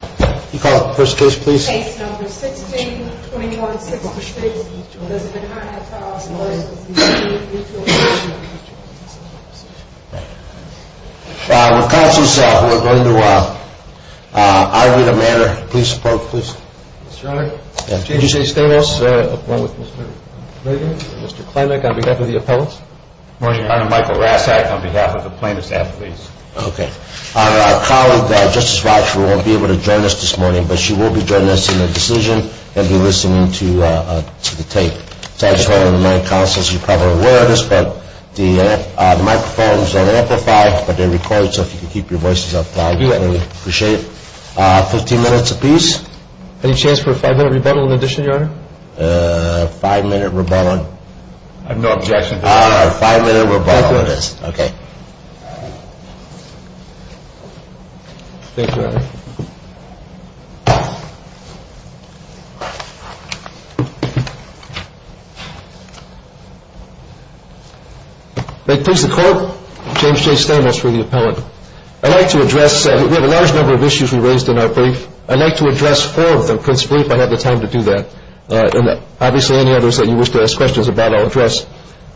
Can you call the first case please? Case number 162166, Mrs. McConaughey filed a lawsuit for Ismie Mutual Insurance Company. We're going to argue the matter. Please support, please. Mr. Honor, Chief Justice Stamos, Mr. Klinek on behalf of the appellants. Marshal Honor, Michael Rasak on behalf of the plaintiffs' affiliates. Okay. Honor, our colleague, Justice Ratchford, won't be able to join us this morning, but she will be joining us in a decision and be listening to the tape. As I was telling my counsels, you're probably aware of this, but the microphones are amplified, but they're recorded so if you can keep your voices up, that would be appreciated. Fifteen minutes apiece. Any chance for a five-minute rebuttal in addition, Your Honor? Five-minute rebuttal. I have no objection to that. Five-minute rebuttal it is. Okay. Thank you, Your Honor. May it please the Court, James J. Stamos for the appellant. I'd like to address, we have a large number of issues we raised in our brief. I'd like to address four of them. I couldn't speak, but I had the time to do that. Obviously, any others that you wish to ask questions about, I'll address.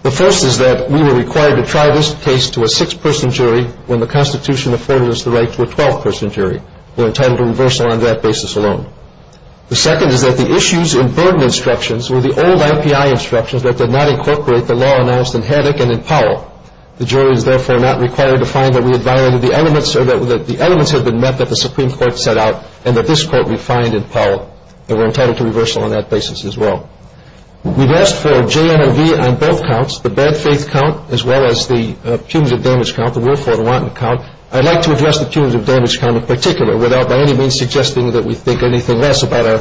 The first is that we were required to try this case to a six-person jury when the Constitution afforded us the right to a 12-person jury. We're entitled to reversal on that basis alone. The second is that the issues in burden instructions were the old MPI instructions that did not incorporate the law announced in Haddock and in Powell. The jury is therefore not required to find that we had violated the elements or that the elements had been met that the Supreme Court set out and that this Court refined in Powell, and we're entitled to reversal on that basis as well. We've asked for a JNRV on both counts, the bad faith count as well as the punitive damage count, the willful and wanton count. I'd like to address the punitive damage count in particular without by any means suggesting that we think anything less about our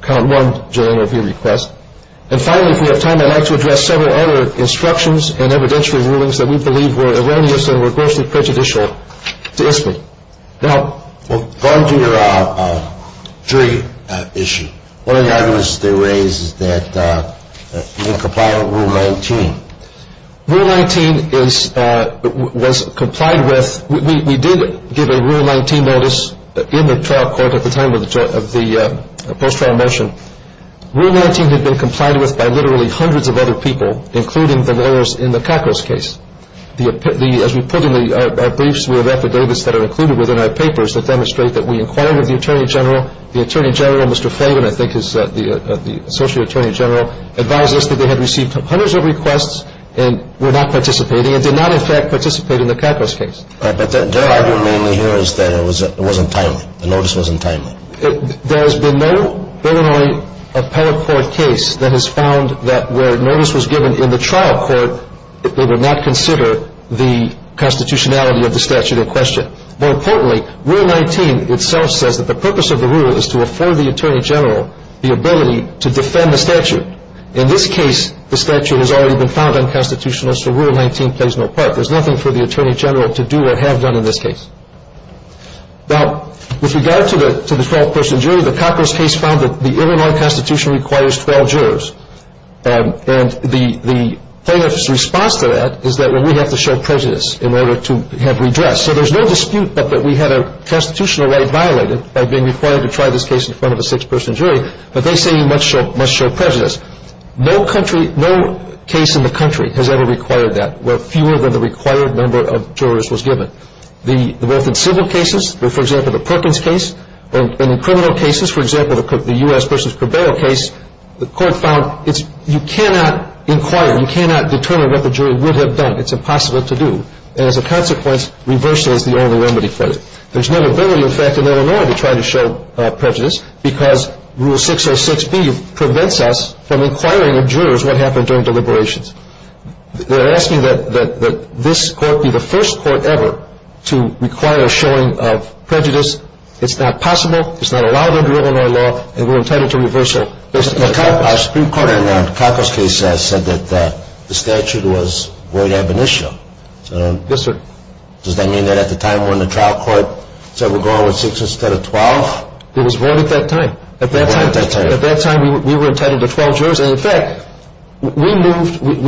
count one JNRV request. And finally, if we have time, I'd like to address several other instructions and evidentiary rulings that we believe were erroneous and were grossly prejudicial to ISBI. Now, going to your jury issue, one of the arguments they raised is that we comply with Rule 19. Rule 19 was complied with. We did give a Rule 19 notice in the trial court at the time of the post-trial motion. Rule 19 had been complied with by literally hundreds of other people, including the lawyers in the Kakos case. As we put in our briefs, we have affidavits that are included within our papers that demonstrate that we inquired with the Attorney General. The Attorney General, Mr. Flavin, I think is the Associate Attorney General, advised us that they had received hundreds of requests and were not participating and did not, in fact, participate in the Kakos case. But their argument here is that it wasn't timely. The notice wasn't timely. There has been no Illinois appellate court case that has found that where a notice was given in the trial court, they would not consider the constitutionality of the statute in question. More importantly, Rule 19 itself says that the purpose of the rule is to afford the Attorney General the ability to defend the statute. In this case, the statute has already been found unconstitutional, so Rule 19 plays no part. There's nothing for the Attorney General to do or have done in this case. Now, with regard to the 12-person jury, the Kakos case found that the Illinois Constitution requires 12 jurors. And the plaintiff's response to that is that, well, we have to show prejudice in order to have redress. So there's no dispute that we had a constitutional right violated by being required to try this case in front of a six-person jury, but they say you must show prejudice. No country, no case in the country has ever required that, where fewer than the required number of jurors was given. Both in civil cases, for example, the Perkins case, and in criminal cases, for example, the U.S. versus Cabello case, the court found you cannot inquire, you cannot determine what the jury would have done. It's impossible to do. And as a consequence, reversal is the only remedy for it. There's no ability, in fact, in Illinois to try to show prejudice, because Rule 606B prevents us from inquiring of jurors what happened during deliberations. They're asking that this court be the first court ever to require a showing of prejudice. It's not possible. It's not allowed under Illinois law, and we're entitled to reversal. Our Supreme Court in the Kakos case said that the statute was void ab initio. Yes, sir. Does that mean that at the time when the trial court said we're going with six instead of 12? It was void at that time. At that time, we were entitled to 12 jurors. And, in fact, we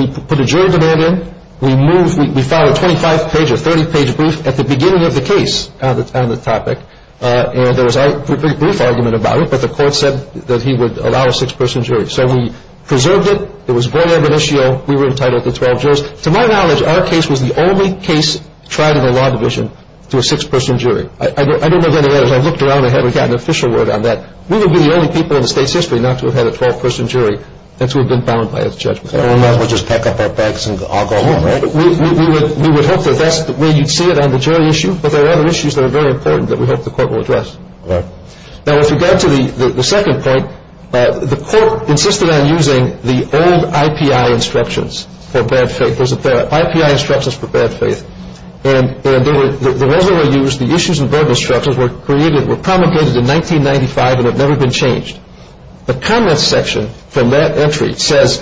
put a jury demand in. We filed a 25-page or 30-page brief at the beginning of the case on the topic, and there was a brief argument about it, but the court said that he would allow a six-person jury. So we preserved it. It was void ab initio. We were entitled to 12 jurors. To my knowledge, our case was the only case tried in a law division to a six-person jury. I don't know if any others have looked around and haven't gotten an official word on that. We would be the only people in the state's history not to have had a 12-person jury and to have been bound by its judgment. Otherwise, we'll just pack up our bags and all go home, right? We would hope that that's the way you'd see it on the jury issue, but there are other issues that are very important that we hope the court will address. All right. Now, with regard to the second point, the court insisted on using the old IPI instructions for bad faith. There's a pair of IPI instructions for bad faith. And those that were used, the issues and verbal instructions were created, were promulgated in 1995 and have never been changed. The comments section from that entry says,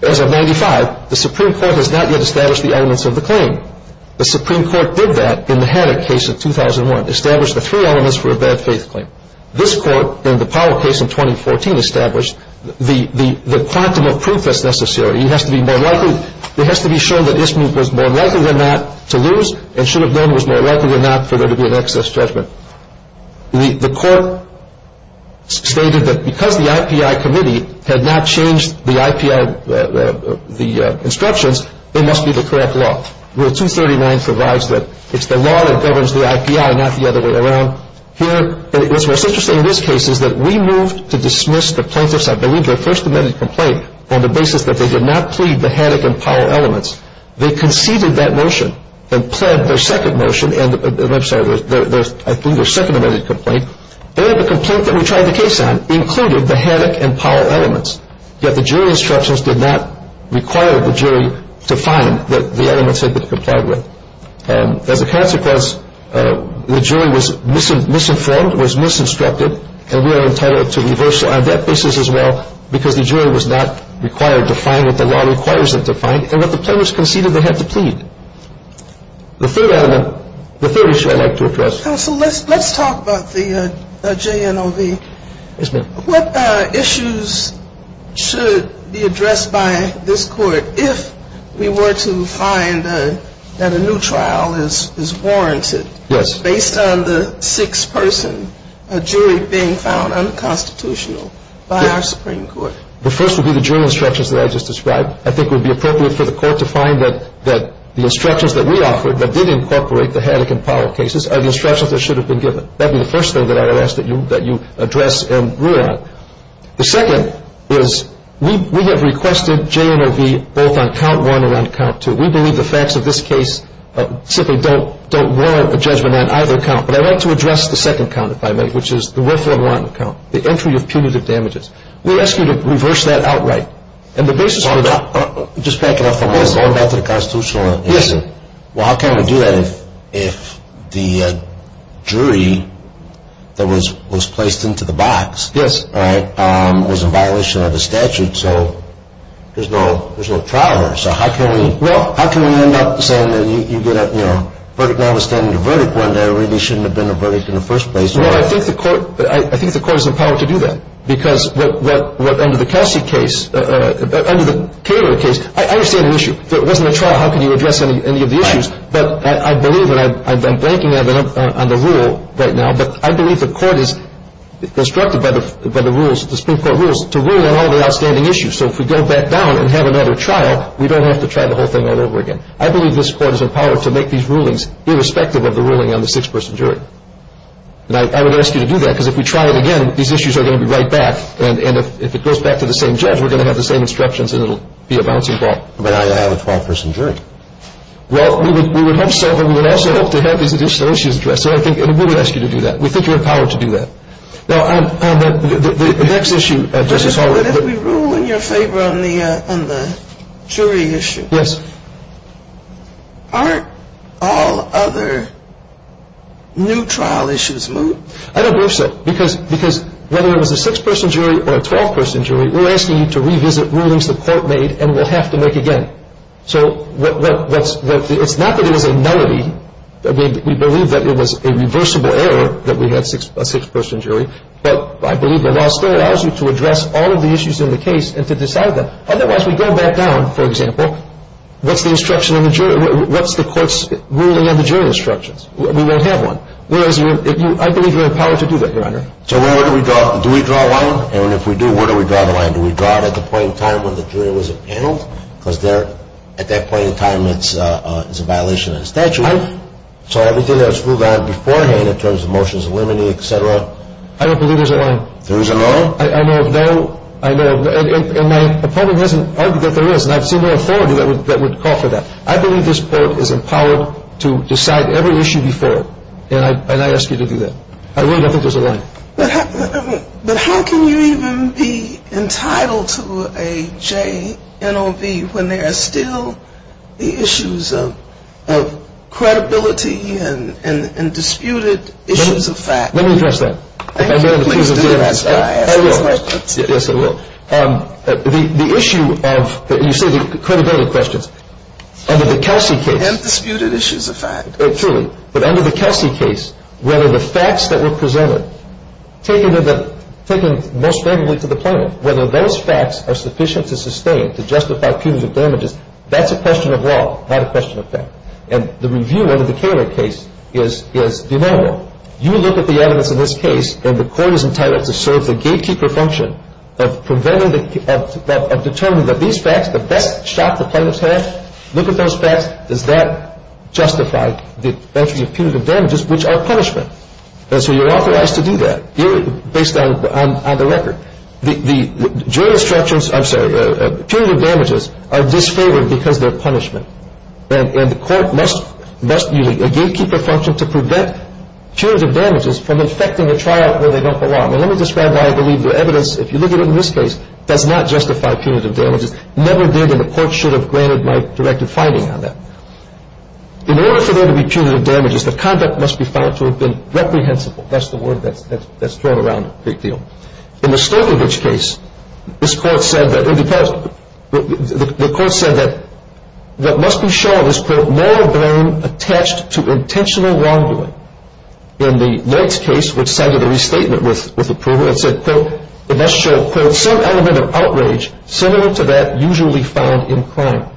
as of 1995, the Supreme Court has not yet established the elements of the claim. The Supreme Court did that in the Haddock case in 2001, established the three elements for a bad faith claim. This court, in the Powell case in 2014, established the quantum of proof that's necessary. It has to be more likely. It has to be shown that this group was more likely than not to lose and should have known it was more likely than not for there to be an excess judgment. The court stated that because the IPI committee had not changed the instructions, it must be the correct law. Rule 239 provides that it's the law that governs the IPI, not the other way around. Here, what's most interesting in this case is that we moved to dismiss the plaintiffs. I believe their first amended complaint on the basis that they did not plead the Haddock and Powell elements. They conceded that motion and pled their second motion. I'm sorry, their second amended complaint. And the complaint that we tried the case on included the Haddock and Powell elements. Yet the jury instructions did not require the jury to find that the elements had been complied with. As a consequence, the jury was misinformed, was misinstructed, and we are entitled to reversal on that basis as well because the jury was not required to find what the law requires them to find and what the plaintiffs conceded they had to plead. The third element, the third issue I'd like to address. Counsel, let's talk about the JNOV. Yes, ma'am. What issues should be addressed by this court if we were to find that a new trial is warranted? Yes. Based on the sixth person, a jury being found unconstitutional by our Supreme Court. The first would be the jury instructions that I just described. I think it would be appropriate for the court to find that the instructions that we offered that did incorporate the Haddock and Powell cases are the instructions that should have been given. That would be the first thing that I would ask that you address and rule on. The second is we have requested JNOV both on count one and on count two. We believe the facts of this case simply don't warrant a judgment on either count. But I'd like to address the second count, if I may, which is the worthwhile warranted count, the entry of punitive damages. We ask you to reverse that outright. And the basis for that – Just back it up for a moment, going back to the constitutional issue. Yes, sir. Well, how can we do that if the jury that was placed into the box was in violation of the statute? So there's no trial there. So how can we end up saying that you get a verdict notwithstanding a verdict when there really shouldn't have been a verdict in the first place? Well, I think the court is empowered to do that. Because what – under the Kelsey case – under the Cato case, I understand the issue. If it wasn't a trial, how could you address any of the issues? But I believe – and I'm blanking on the rule right now, but I believe the court is instructed by the rules, the Supreme Court rules, to rule on all the outstanding issues. So if we go back down and have another trial, we don't have to try the whole thing all over again. I believe this court is empowered to make these rulings irrespective of the ruling on the six-person jury. And I would ask you to do that, because if we try it again, these issues are going to be right back. And if it goes back to the same judge, we're going to have the same instructions and it'll be a bouncing ball. But I have a 12-person jury. Well, we would hope so, but we would also hope to have these additional issues addressed. So I think – and we would ask you to do that. We think you're empowered to do that. Now, on the next issue – But if we rule in your favor on the jury issue. Yes. Aren't all other new trial issues moved? I don't believe so, because whether it was a six-person jury or a 12-person jury, we're asking you to revisit rulings the court made and will have to make again. So it's not that it was a nullity. I mean, we believe that it was a reversible error that we had a six-person jury, but I believe the law still allows you to address all of the issues in the case and to decide them. Otherwise, we go back down, for example, what's the instruction on the jury? What's the court's ruling on the jury instructions? We won't have one. Whereas, I believe you have the power to do that, Your Honor. So where do we draw – do we draw a line? And if we do, where do we draw the line? Do we draw it at the point in time when the jury wasn't paneled? Because at that point in time, it's a violation of the statute. So everything that was moved on beforehand in terms of motions eliminating, et cetera? I don't believe there's a line. There is a line? I know of no – and my opponent hasn't argued that there is, and I've seen no authority that would call for that. I believe this court is empowered to decide every issue before, and I ask you to do that. I don't think there's a line. But how can you even be entitled to a JNOB when there are still the issues of credibility and disputed issues of fact? Let me address that. I will. Yes, I will. The issue of – you say the credibility questions. Under the Kelsey case – And disputed issues of fact. Truly. But under the Kelsey case, whether the facts that were presented, taken most favorably to the plaintiff, whether those facts are sufficient to sustain, to justify punitive damages, that's a question of law, not a question of fact. And the review under the Caylor case is deniable. You look at the evidence in this case, and the court is entitled to serve the gatekeeper function of determining that these facts, the best shot the plaintiff has, look at those facts, does that justify the entry of punitive damages, which are punishment? And so you're authorized to do that based on the record. The jury instructions – I'm sorry – punitive damages are disfavored because they're punishment. And the court must use a gatekeeper function to prevent punitive damages from affecting a trial where they don't belong. And let me describe why I believe the evidence, if you look at it in this case, does not justify punitive damages. Never did, and the court should have granted my directive finding on that. In order for there to be punitive damages, the conduct must be found to have been reprehensible. That's the word that's thrown around a great deal. In the Stokervich case, this court said that – because the court said that what must be shown is, quote, no blame attached to intentional wrongdoing. In the Leitz case, which cited a restatement with approval, it said, quote, it must show, quote, some element of outrage similar to that usually found in crime.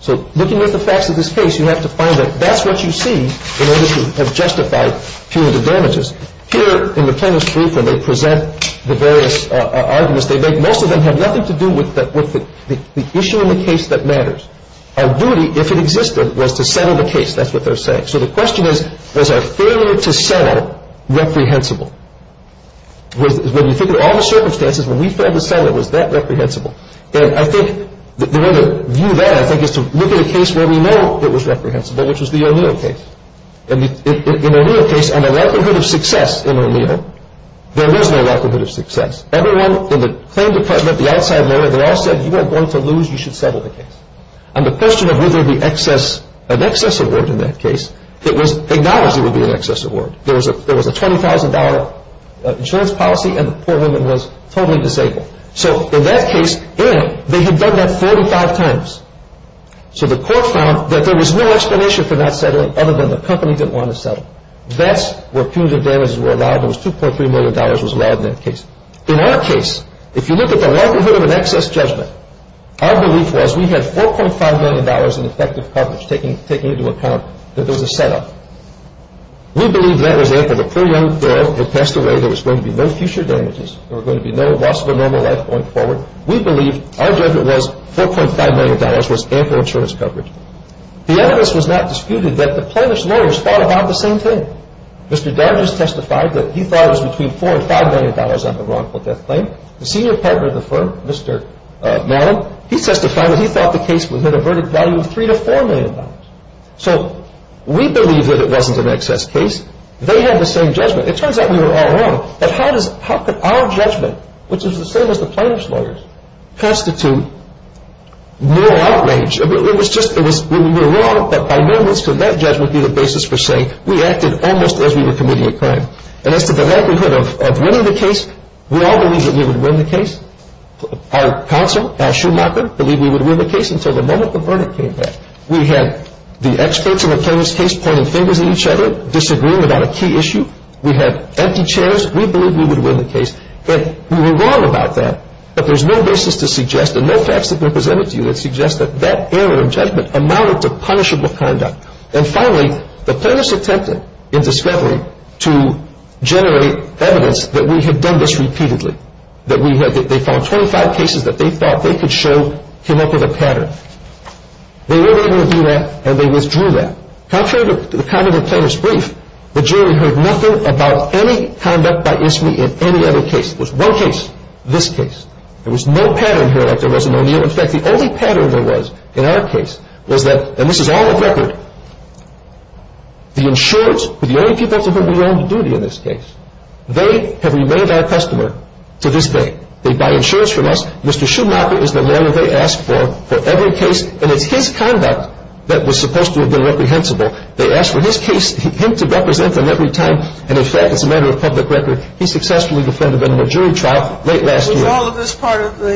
So looking at the facts of this case, you have to find that that's what you see in order to have justified punitive damages. Here in the plaintiff's brief, when they present the various arguments they make, most of them have nothing to do with the issue in the case that matters. Our duty, if it existed, was to settle the case. That's what they're saying. So the question is, was our failure to settle reprehensible? When you think of all the circumstances, when we failed to settle, was that reprehensible? And I think the way to view that, I think, is to look at a case where we know it was reprehensible, which was the O'Neill case. In the O'Neill case, on the likelihood of success in O'Neill, there was no likelihood of success. Everyone in the claim department, the outside lawyer, they all said, you aren't going to lose, you should settle the case. On the question of whether there would be an excess award in that case, it was acknowledged there would be an excess award. There was a $20,000 insurance policy, and the poor woman was totally disabled. So in that case, they had done that 45 times. So the court found that there was no explanation for not settling, other than the company didn't want to settle. That's where punitive damages were allowed. It was $2.3 million was allowed in that case. In our case, if you look at the likelihood of an excess judgment, our belief was we had $4.5 million in effective coverage, taking into account that there was a setup. We believed that was there for the poor young girl who had passed away. There was going to be no future damages. There was going to be no loss of a normal life going forward. We believed our judgment was $4.5 million was ample insurance coverage. The evidence was not disputed that the plaintiff's lawyers thought about the same thing. Mr. Dargis testified that he thought it was between $4 and $5 million on the wrongful death claim. The senior partner of the firm, Mr. Mallon, he testified that he thought the case had a verdict value of $3 to $4 million. So we believed that it wasn't an excess case. They had the same judgment. It turns out we were all wrong. But how could our judgment, which is the same as the plaintiff's lawyers, constitute no outrage? It was just we were wrong that by no means could that judgment be the basis for saying we acted almost as we were committing a crime. And as to the likelihood of winning the case, we all believed that we would win the case. Our counsel, our shoemaker, believed we would win the case until the moment the verdict came back. We had the experts in the plaintiff's case pointing fingers at each other, disagreeing about a key issue. We had empty chairs. We believed we would win the case. But we were wrong about that. But there's no basis to suggest, and no facts have been presented to you that suggest that that error in judgment amounted to punishable conduct. And finally, the plaintiffs attempted in discrepancy to generate evidence that we had done this repeatedly, that they found 25 cases that they thought they could show came up with a pattern. They weren't able to do that, and they withdrew that. Contrary to the conduct of the plaintiff's brief, the jury heard nothing about any conduct by ISME in any other case. There was one case, this case. There was no pattern here like there was in O'Neill. In fact, the only pattern there was in our case was that, and this is all of record, the insurers were the only people to whom we were on duty in this case. They have remained our customer to this day. They buy insurance from us. Mr. Schumacher is the lawyer they asked for for every case. And it's his conduct that was supposed to have been reprehensible. They asked for his case, him to represent them every time. And, in fact, as a matter of public record, he successfully defended them in a jury trial late last year. Was all of this part of the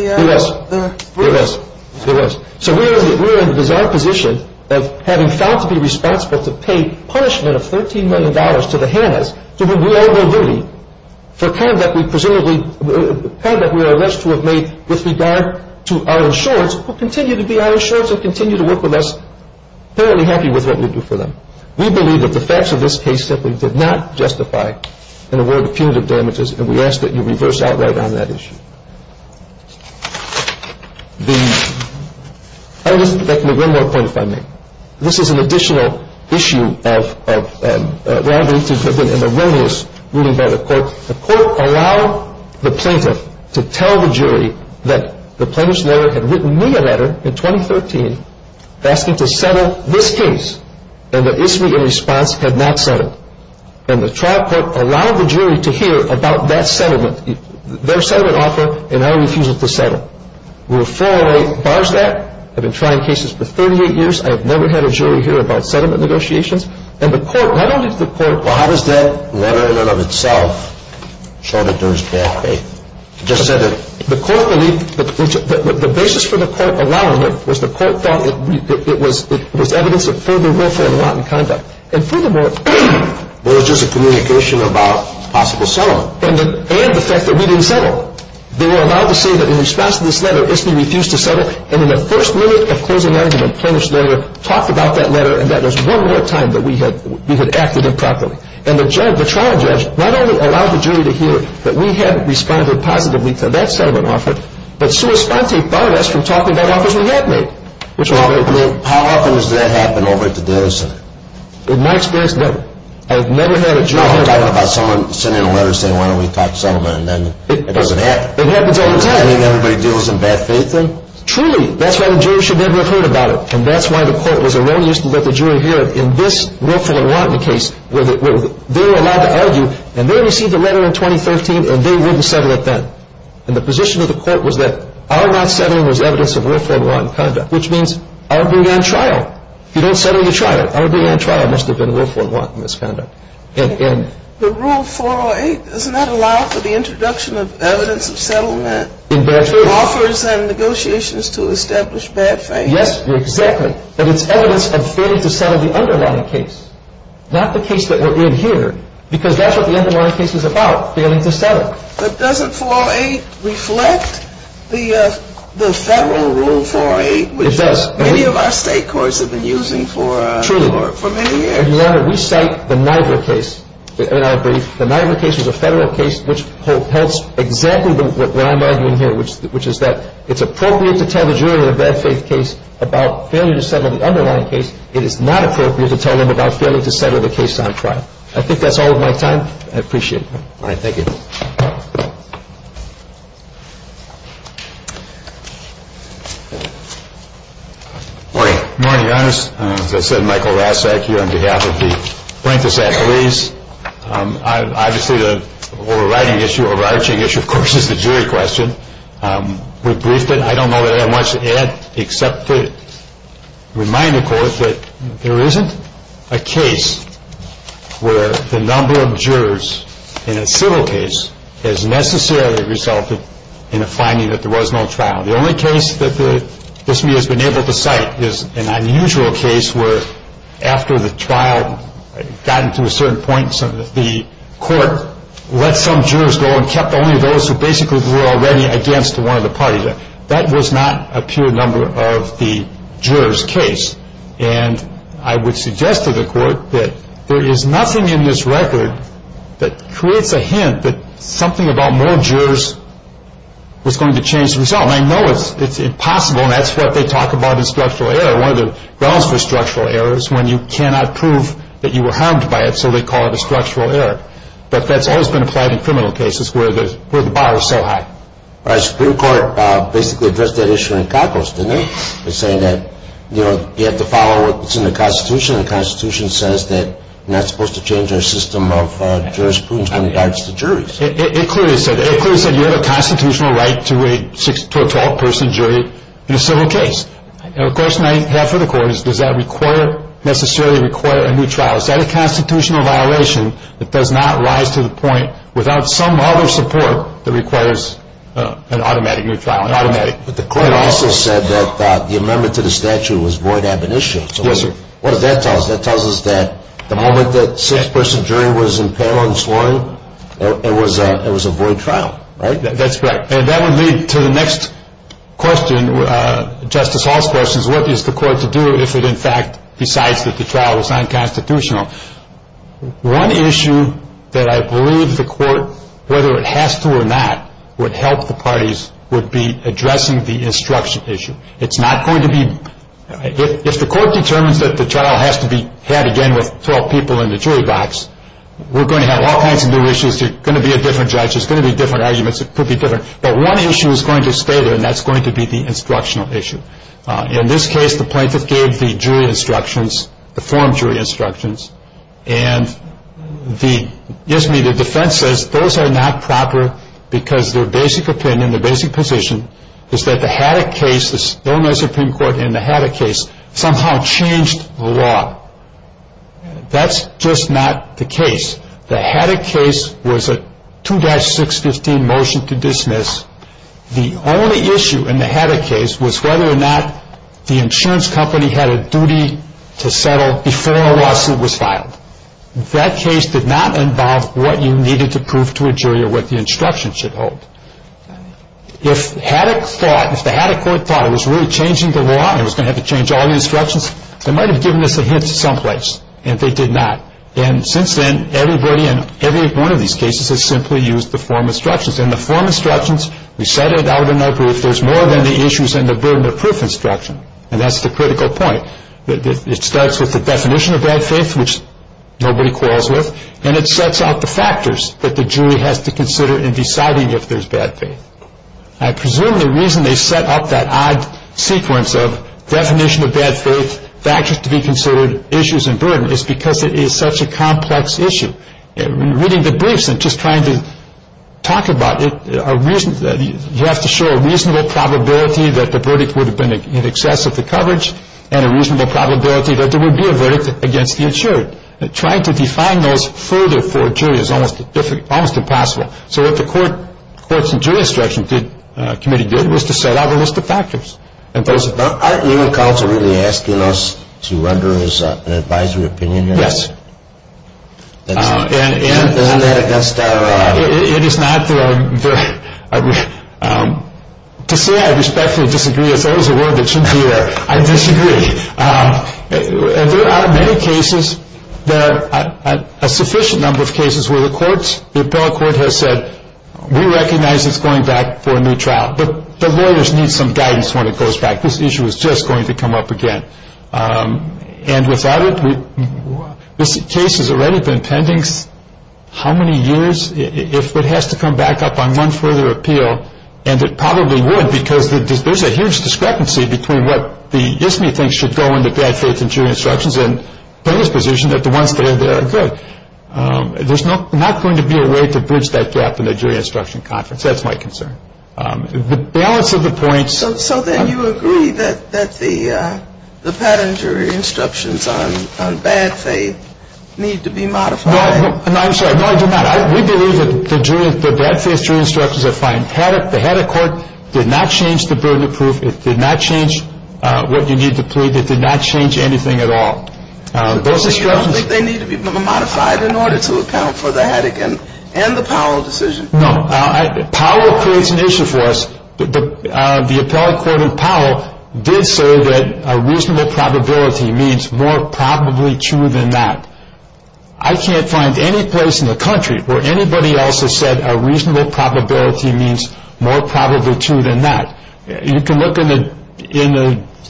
brief? It was. It was. It was. So we were in the bizarre position of having failed to be responsible to pay punishment of $13 million to the Hannas to whom we owe no duty for conduct we are alleged to have made with regard to our insurance, who continue to be our insurers and continue to work with us, apparently happy with what we do for them. We believe that the facts of this case simply did not justify an award of punitive damages, and we ask that you reverse outright on that issue. The – I would like to make one more point, if I may. This is an additional issue of what I believe to have been an erroneous ruling by the court. The court allowed the plaintiff to tell the jury that the plaintiff's lawyer had written me a letter in 2013 asking to settle this case, and the issue in response had not settled. And the trial court allowed the jury to hear about that settlement, their settlement offer, and our refusal to settle. We were far away as far as that. I've been trying cases for 38 years. I have never had a jury hear about settlement negotiations. And the court – not only did the court – Well, how does that letter in and of itself show that there is poor faith? It just said that – The court believed – the basis for the court allowing it was the court thought it was evidence of further willful and rotten conduct. And furthermore – There was just a communication about possible settlement. And the fact that we didn't settle. They were allowed to say that in response to this letter, ISTE refused to settle. And in the first minute of closing argument, the plaintiff's lawyer talked about that letter, and that was one more time that we had acted improperly. And the trial judge not only allowed the jury to hear that we had responded positively to that settlement offer, but sui sponte barred us from talking about offers we had made. How often does that happen over at the Davis Center? In my experience, never. I've never had a jury – You're talking about someone sending a letter saying, why don't we talk settlement, and then it doesn't happen. It happens all the time. Does that mean everybody deals in bad faith then? Truly. That's why the jury should never have heard about it. And that's why the court was aroused to let the jury hear it in this willful and rotten case where they were allowed to argue. And they received the letter in 2013, and they wouldn't settle it then. And the position of the court was that our not settling was evidence of willful and rotten conduct, which means our being on trial. If you don't settle your trial, our being on trial must have been willful and rotten misconduct. But Rule 408, doesn't that allow for the introduction of evidence of settlement? In bad faith. Offers and negotiations to establish bad faith. Yes, exactly. But it's evidence of failing to settle the underlying case, not the case that we're in here, because that's what the underlying case is about, failing to settle. But doesn't 408 reflect the federal Rule 408, which many of our state courts have been using for many years? Your Honor, we cite the Niagara case in our brief. The Niagara case was a federal case which holds exactly what I'm arguing here, which is that it's appropriate to tell the jury in a bad faith case about failure to settle the underlying case. It is not appropriate to tell them about failure to settle the case on trial. I think that's all of my time. I appreciate it. All right. Thank you. Morning. Morning, Your Honors. As I said, Michael Rasek here on behalf of the Blankensack Police. Obviously, the overriding issue, overarching issue, of course, is the jury question. We've briefed it. I don't know that I have much to add except to remind the Court that there isn't a case where the number of jurors in a civil case has necessarily resulted in a finding that there was no trial. The only case that this Committee has been able to cite is an unusual case where, after the trial had gotten to a certain point, the Court let some jurors go and kept only those who basically were already against one of the parties. That was not a pure number of the jurors' case. And I would suggest to the Court that there is nothing in this record that creates a hint that something about more jurors was going to change the result. And I know it's impossible, and that's what they talk about in structural error. One of the grounds for structural error is when you cannot prove that you were harmed by it, so they call it a structural error. But that's always been applied in criminal cases where the bar is so high. All right. The Supreme Court basically addressed that issue in calculus, didn't it, in saying that you have to follow what's in the Constitution, and the Constitution says that you're not supposed to change our system of jurisprudence in regards to juries. It clearly said that. You have a constitutional right to a 12-person jury in a civil case. And, of course, half of the Court is, does that necessarily require a new trial? Is that a constitutional violation that does not rise to the point without some other support that requires an automatic new trial, an automatic? But the Court also said that the amendment to the statute was void ab initio. Yes, sir. What does that tell us? That tells us that the moment that a 6-person jury was in peril and slaughter, it was a void trial, right? That's correct. And that would lead to the next question, Justice Hall's question, is what is the Court to do if it, in fact, decides that the trial is unconstitutional? One issue that I believe the Court, whether it has to or not, would help the parties, would be addressing the instruction issue. It's not going to be, if the Court determines that the trial has to be had again with 12 people in the jury box, we're going to have all kinds of new issues. There's going to be a different judge. There's going to be different arguments that could be different. But one issue is going to stay there, and that's going to be the instructional issue. In this case, the plaintiff gave the jury instructions, the forum jury instructions. And the, excuse me, the defense says those are not proper because their basic opinion, their basic position is that the Haddock case, the Illinois Supreme Court in the Haddock case, somehow changed the law. That's just not the case. The Haddock case was a 2-615 motion to dismiss. The only issue in the Haddock case was whether or not the insurance company had a duty to settle before a lawsuit was filed. That case did not involve what you needed to prove to a jury or what the instructions should hold. If Haddock thought, if the Haddock Court thought it was really changing the law and it was going to have to change all the instructions, they might have given us a hint someplace, and they did not. And since then, everybody in every one of these cases has simply used the forum instructions. And the forum instructions, we set it out in our brief. There's more than the issues and the burden of proof instruction, and that's the critical point. It starts with the definition of bad faith, which nobody quarrels with, and it sets out the factors that the jury has to consider in deciding if there's bad faith. I presume the reason they set up that odd sequence of definition of bad faith, factors to be considered, issues and burden is because it is such a complex issue. Reading the briefs and just trying to talk about it, you have to show a reasonable probability that the verdict would have been in excess of the coverage and a reasonable probability that there would be a verdict against the insured. Trying to define those further for a jury is almost impossible. So what the Courts and Jury Instructions Committee did was to set out a list of factors. But aren't you and counsel really asking us to render as an advisory opinion here? Yes. Isn't that against our... It is not. To say I respectfully disagree is always a word that shouldn't be there. I disagree. There are many cases, a sufficient number of cases, where the appeals court has said, we recognize it's going back for a new trial, but the lawyers need some guidance when it goes back. This issue is just going to come up again. And without it, this case has already been pending how many years? If it has to come back up on one further appeal, and it probably would, because there's a huge discrepancy between what the ISME thinks should go into bad faith and jury instructions and the position that the ones that are there are good. There's not going to be a way to bridge that gap in a jury instruction conference. That's my concern. The balance of the points... So then you agree that the patent jury instructions on bad faith need to be modified? No, I'm sorry. No, I do not. We believe that the bad faith jury instructions are fine. The head of court did not change the burden of proof. It did not change what you need to plead. It did not change anything at all. So you don't think they need to be modified in order to account for the Haddock and the Powell decision? No. Powell creates an issue for us. The appellate court in Powell did say that a reasonable probability means more probably true than not. I can't find any place in the country where anybody else has said a reasonable probability means more probably true than not. You can look in the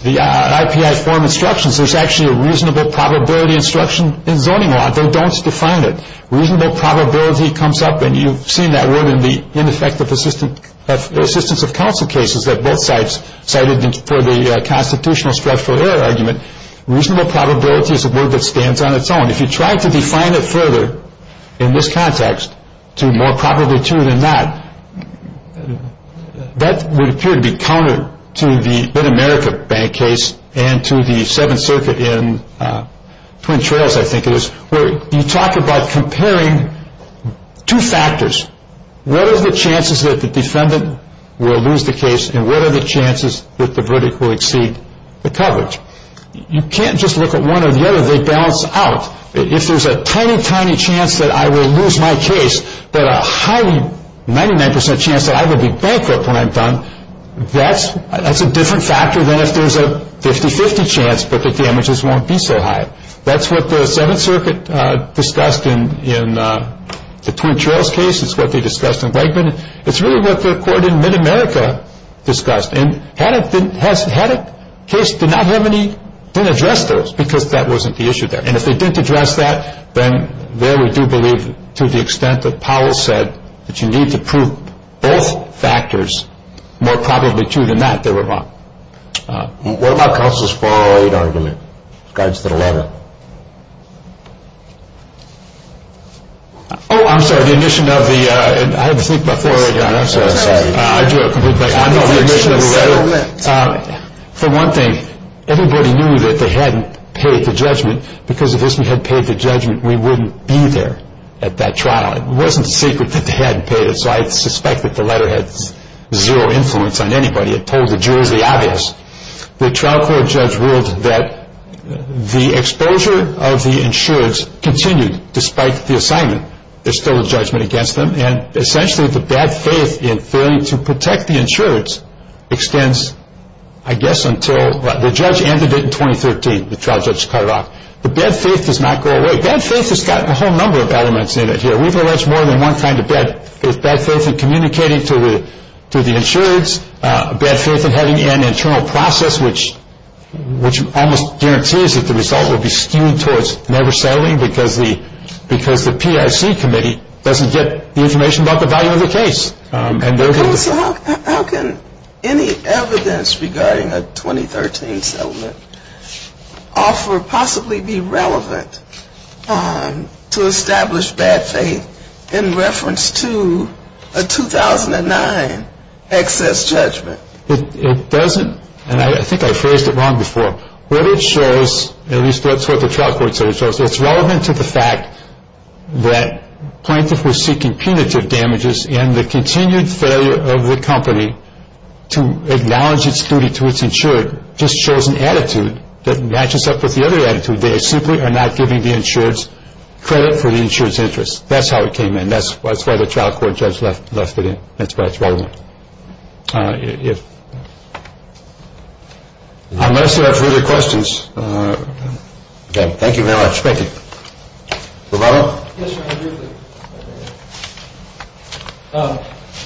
IPI form instructions. There's actually a reasonable probability instruction in zoning law. They don't define it. Reasonable probability comes up, and you've seen that word in the ineffective assistance of counsel cases that both sides cited for the constitutional structural error argument. Reasonable probability is a word that stands on its own. If you try to define it further in this context to more probably true than not, that would appear to be counter to the Mid-America Bank case and to the Seventh Circuit in Twin Trails, I think it is, where you talk about comparing two factors. What are the chances that the defendant will lose the case, and what are the chances that the verdict will exceed the coverage? You can't just look at one or the other. They balance out. If there's a tiny, tiny chance that I will lose my case, but a highly 99 percent chance that I will be bankrupt when I'm done, that's a different factor than if there's a 50-50 chance, but the damages won't be so high. That's what the Seventh Circuit discussed in the Twin Trails case. It's what they discussed in Wegman. It's really what the court in Mid-America discussed, and had a case did not have any, didn't address those because that wasn't the issue there. And if they didn't address that, then there we do believe to the extent that Powell said that you need to prove both factors more probably true than not, they were wrong. What about Counsel's 408 argument? It guides to the letter. Oh, I'm sorry. The omission of the, I had to think about 408. I'm sorry. I drew a complete blank. I know the omission of the letter. For one thing, everybody knew that they hadn't paid the judgment. Because if they had paid the judgment, we wouldn't be there at that trial. It wasn't a secret that they hadn't paid it, so I suspect that the letter had zero influence on anybody. It told the jury the obvious. The trial court judge ruled that the exposure of the insureds continued despite the assignment. There's still a judgment against them, and essentially the bad faith in failing to protect the insureds extends, I guess, until the judge ended it in 2013. The trial judge cut it off. The bad faith does not go away. Bad faith has got a whole number of elements in it here. We've alleged more than one kind of bad faith. Bad faith in communicating to the insureds. Bad faith in having an internal process, which almost guarantees that the result will be skewed towards never settling because the PIC committee doesn't get the information about the value of the case. How can any evidence regarding a 2013 settlement offer possibly be relevant to establish bad faith in reference to a 2009 excess judgment? It doesn't, and I think I phrased it wrong before. What it shows, at least that's what the trial court said it shows, it's relevant to the fact that plaintiffs were seeking punitive damages, and the continued failure of the company to acknowledge its duty to its insured just shows an attitude that matches up with the other attitude. They simply are not giving the insureds credit for the insured's interest. That's how it came in. That's why the trial court judge left it in. That's why it's relevant. Unless you have further questions. Okay. Thank you very much. Thank you. Roberto? Yes, Your Honor, briefly.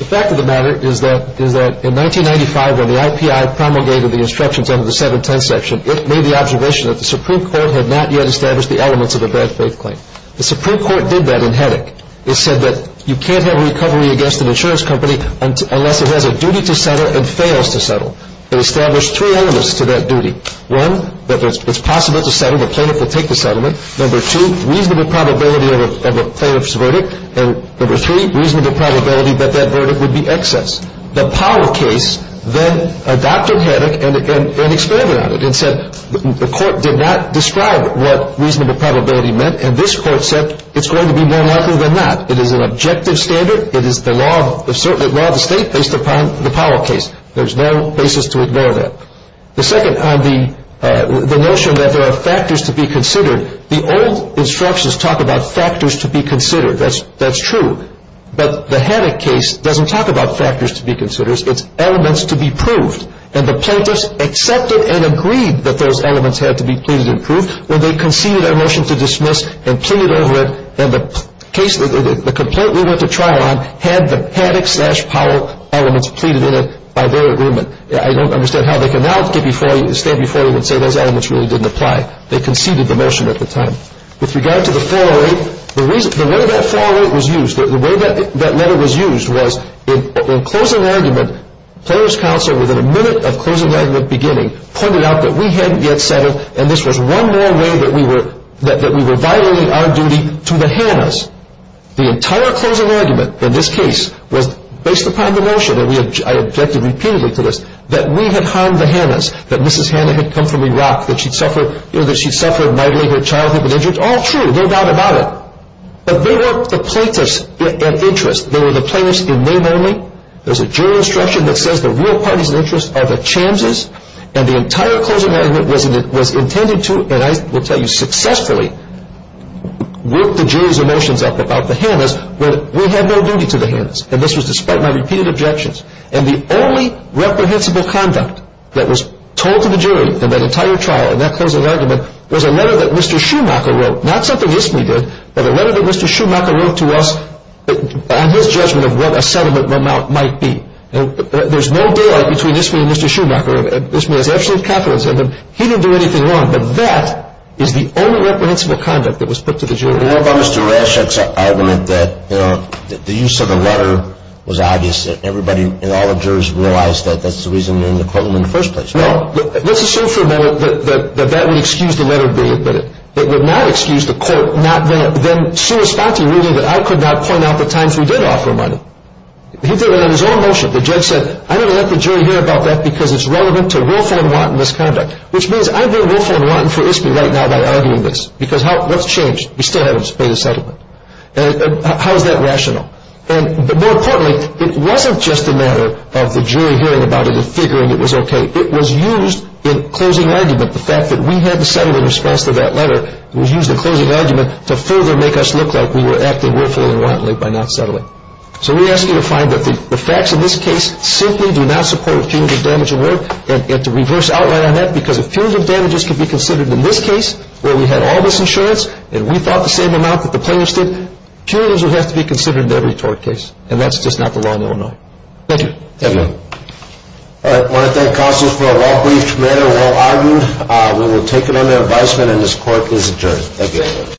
The fact of the matter is that in 1995 when the IPI promulgated the instructions under the 710 section, it made the observation that the Supreme Court had not yet established the elements of a bad faith claim. The Supreme Court did that in headache. It said that you can't have a recovery against an insurance company unless it has a duty to settle and fails to settle. It established three elements to that duty. One, that it's possible to settle. The plaintiff will take the settlement. Number two, reasonable probability of a plaintiff's verdict. And number three, reasonable probability that that verdict would be excess. The Powell case then adopted headache and expanded on it and said the court did not describe what reasonable probability meant, and this court said it's going to be more likely than not. It is an objective standard. It is the law of the state based upon the Powell case. There's no basis to ignore that. The second on the notion that there are factors to be considered, the old instructions talk about factors to be considered. That's true. But the headache case doesn't talk about factors to be considered. It's elements to be proved. And the plaintiffs accepted and agreed that those elements had to be pleaded and proved when they conceded a motion to dismiss and pleaded over it. And the complaint we went to trial on had the headache-slash-Powell elements pleaded in it by their agreement. I don't understand how they can now stand before you and say those elements really didn't apply. They conceded the motion at the time. With regard to the 408, the way that 408 was used, the way that letter was used was in closing argument, players' counsel within a minute of closing argument beginning pointed out that we hadn't yet settled and this was one more way that we were violating our duty to the Hannas. The entire closing argument in this case was based upon the motion, and I objected repeatedly to this, that we had harmed the Hannas, that Mrs. Hanna had come from Iraq, that she'd suffered nightly her childhood was injured. It's all true. They're not about it. But they were the plaintiffs in interest. They were the plaintiffs in name only. There's a jury instruction that says the real parties in interest are the Chamses, and the entire closing argument was intended to, and I will tell you successfully, work the jury's emotions up about the Hannas when we had no duty to the Hannas. And this was despite my repeated objections. And the only reprehensible conduct that was told to the jury in that entire trial, in that closing argument, was a letter that Mr. Schumacher wrote, not something Isme did, but a letter that Mr. Schumacher wrote to us on his judgment of what a settlement run out might be. There's no daylight between Isme and Mr. Schumacher, and Isme has absolute confidence in him. He didn't do anything wrong, but that is the only reprehensible conduct that was put to the jury. And what about Mr. Raschek's argument that the use of the letter was obvious, and all the jurors realized that that's the reason they're in the courtroom in the first place? Well, let's assume for a moment that that would excuse the letter being admitted. It would not excuse the court not being there. Then Suresh Fati ruled that I could not point out the times we did offer money. He did it on his own motion. The judge said, I'm going to let the jury hear about that because it's relevant to willful and wanton misconduct, which means I'm being willful and wanton for Isme right now by arguing this, because what's changed? We still haven't paid a settlement. How is that rational? But more importantly, it wasn't just a matter of the jury hearing about it and figuring it was okay. It was used in closing argument, the fact that we had to settle in response to that letter. It was used in closing argument to further make us look like we were acting willfully and wantonly by not settling. So we ask you to find that the facts in this case simply do not support a punitive damage award, and to reverse outline on that, because a punitive damage can be considered in this case, where we had all this insurance, and we thought the same amount that the plaintiffs did. Punitives would have to be considered in every tort case, and that's just not the law in Illinois. Thank you. Thank you. All right. I want to thank counsels for a well-briefed matter, well-argued. We will take it under advisement, and this court is adjourned. Thank you.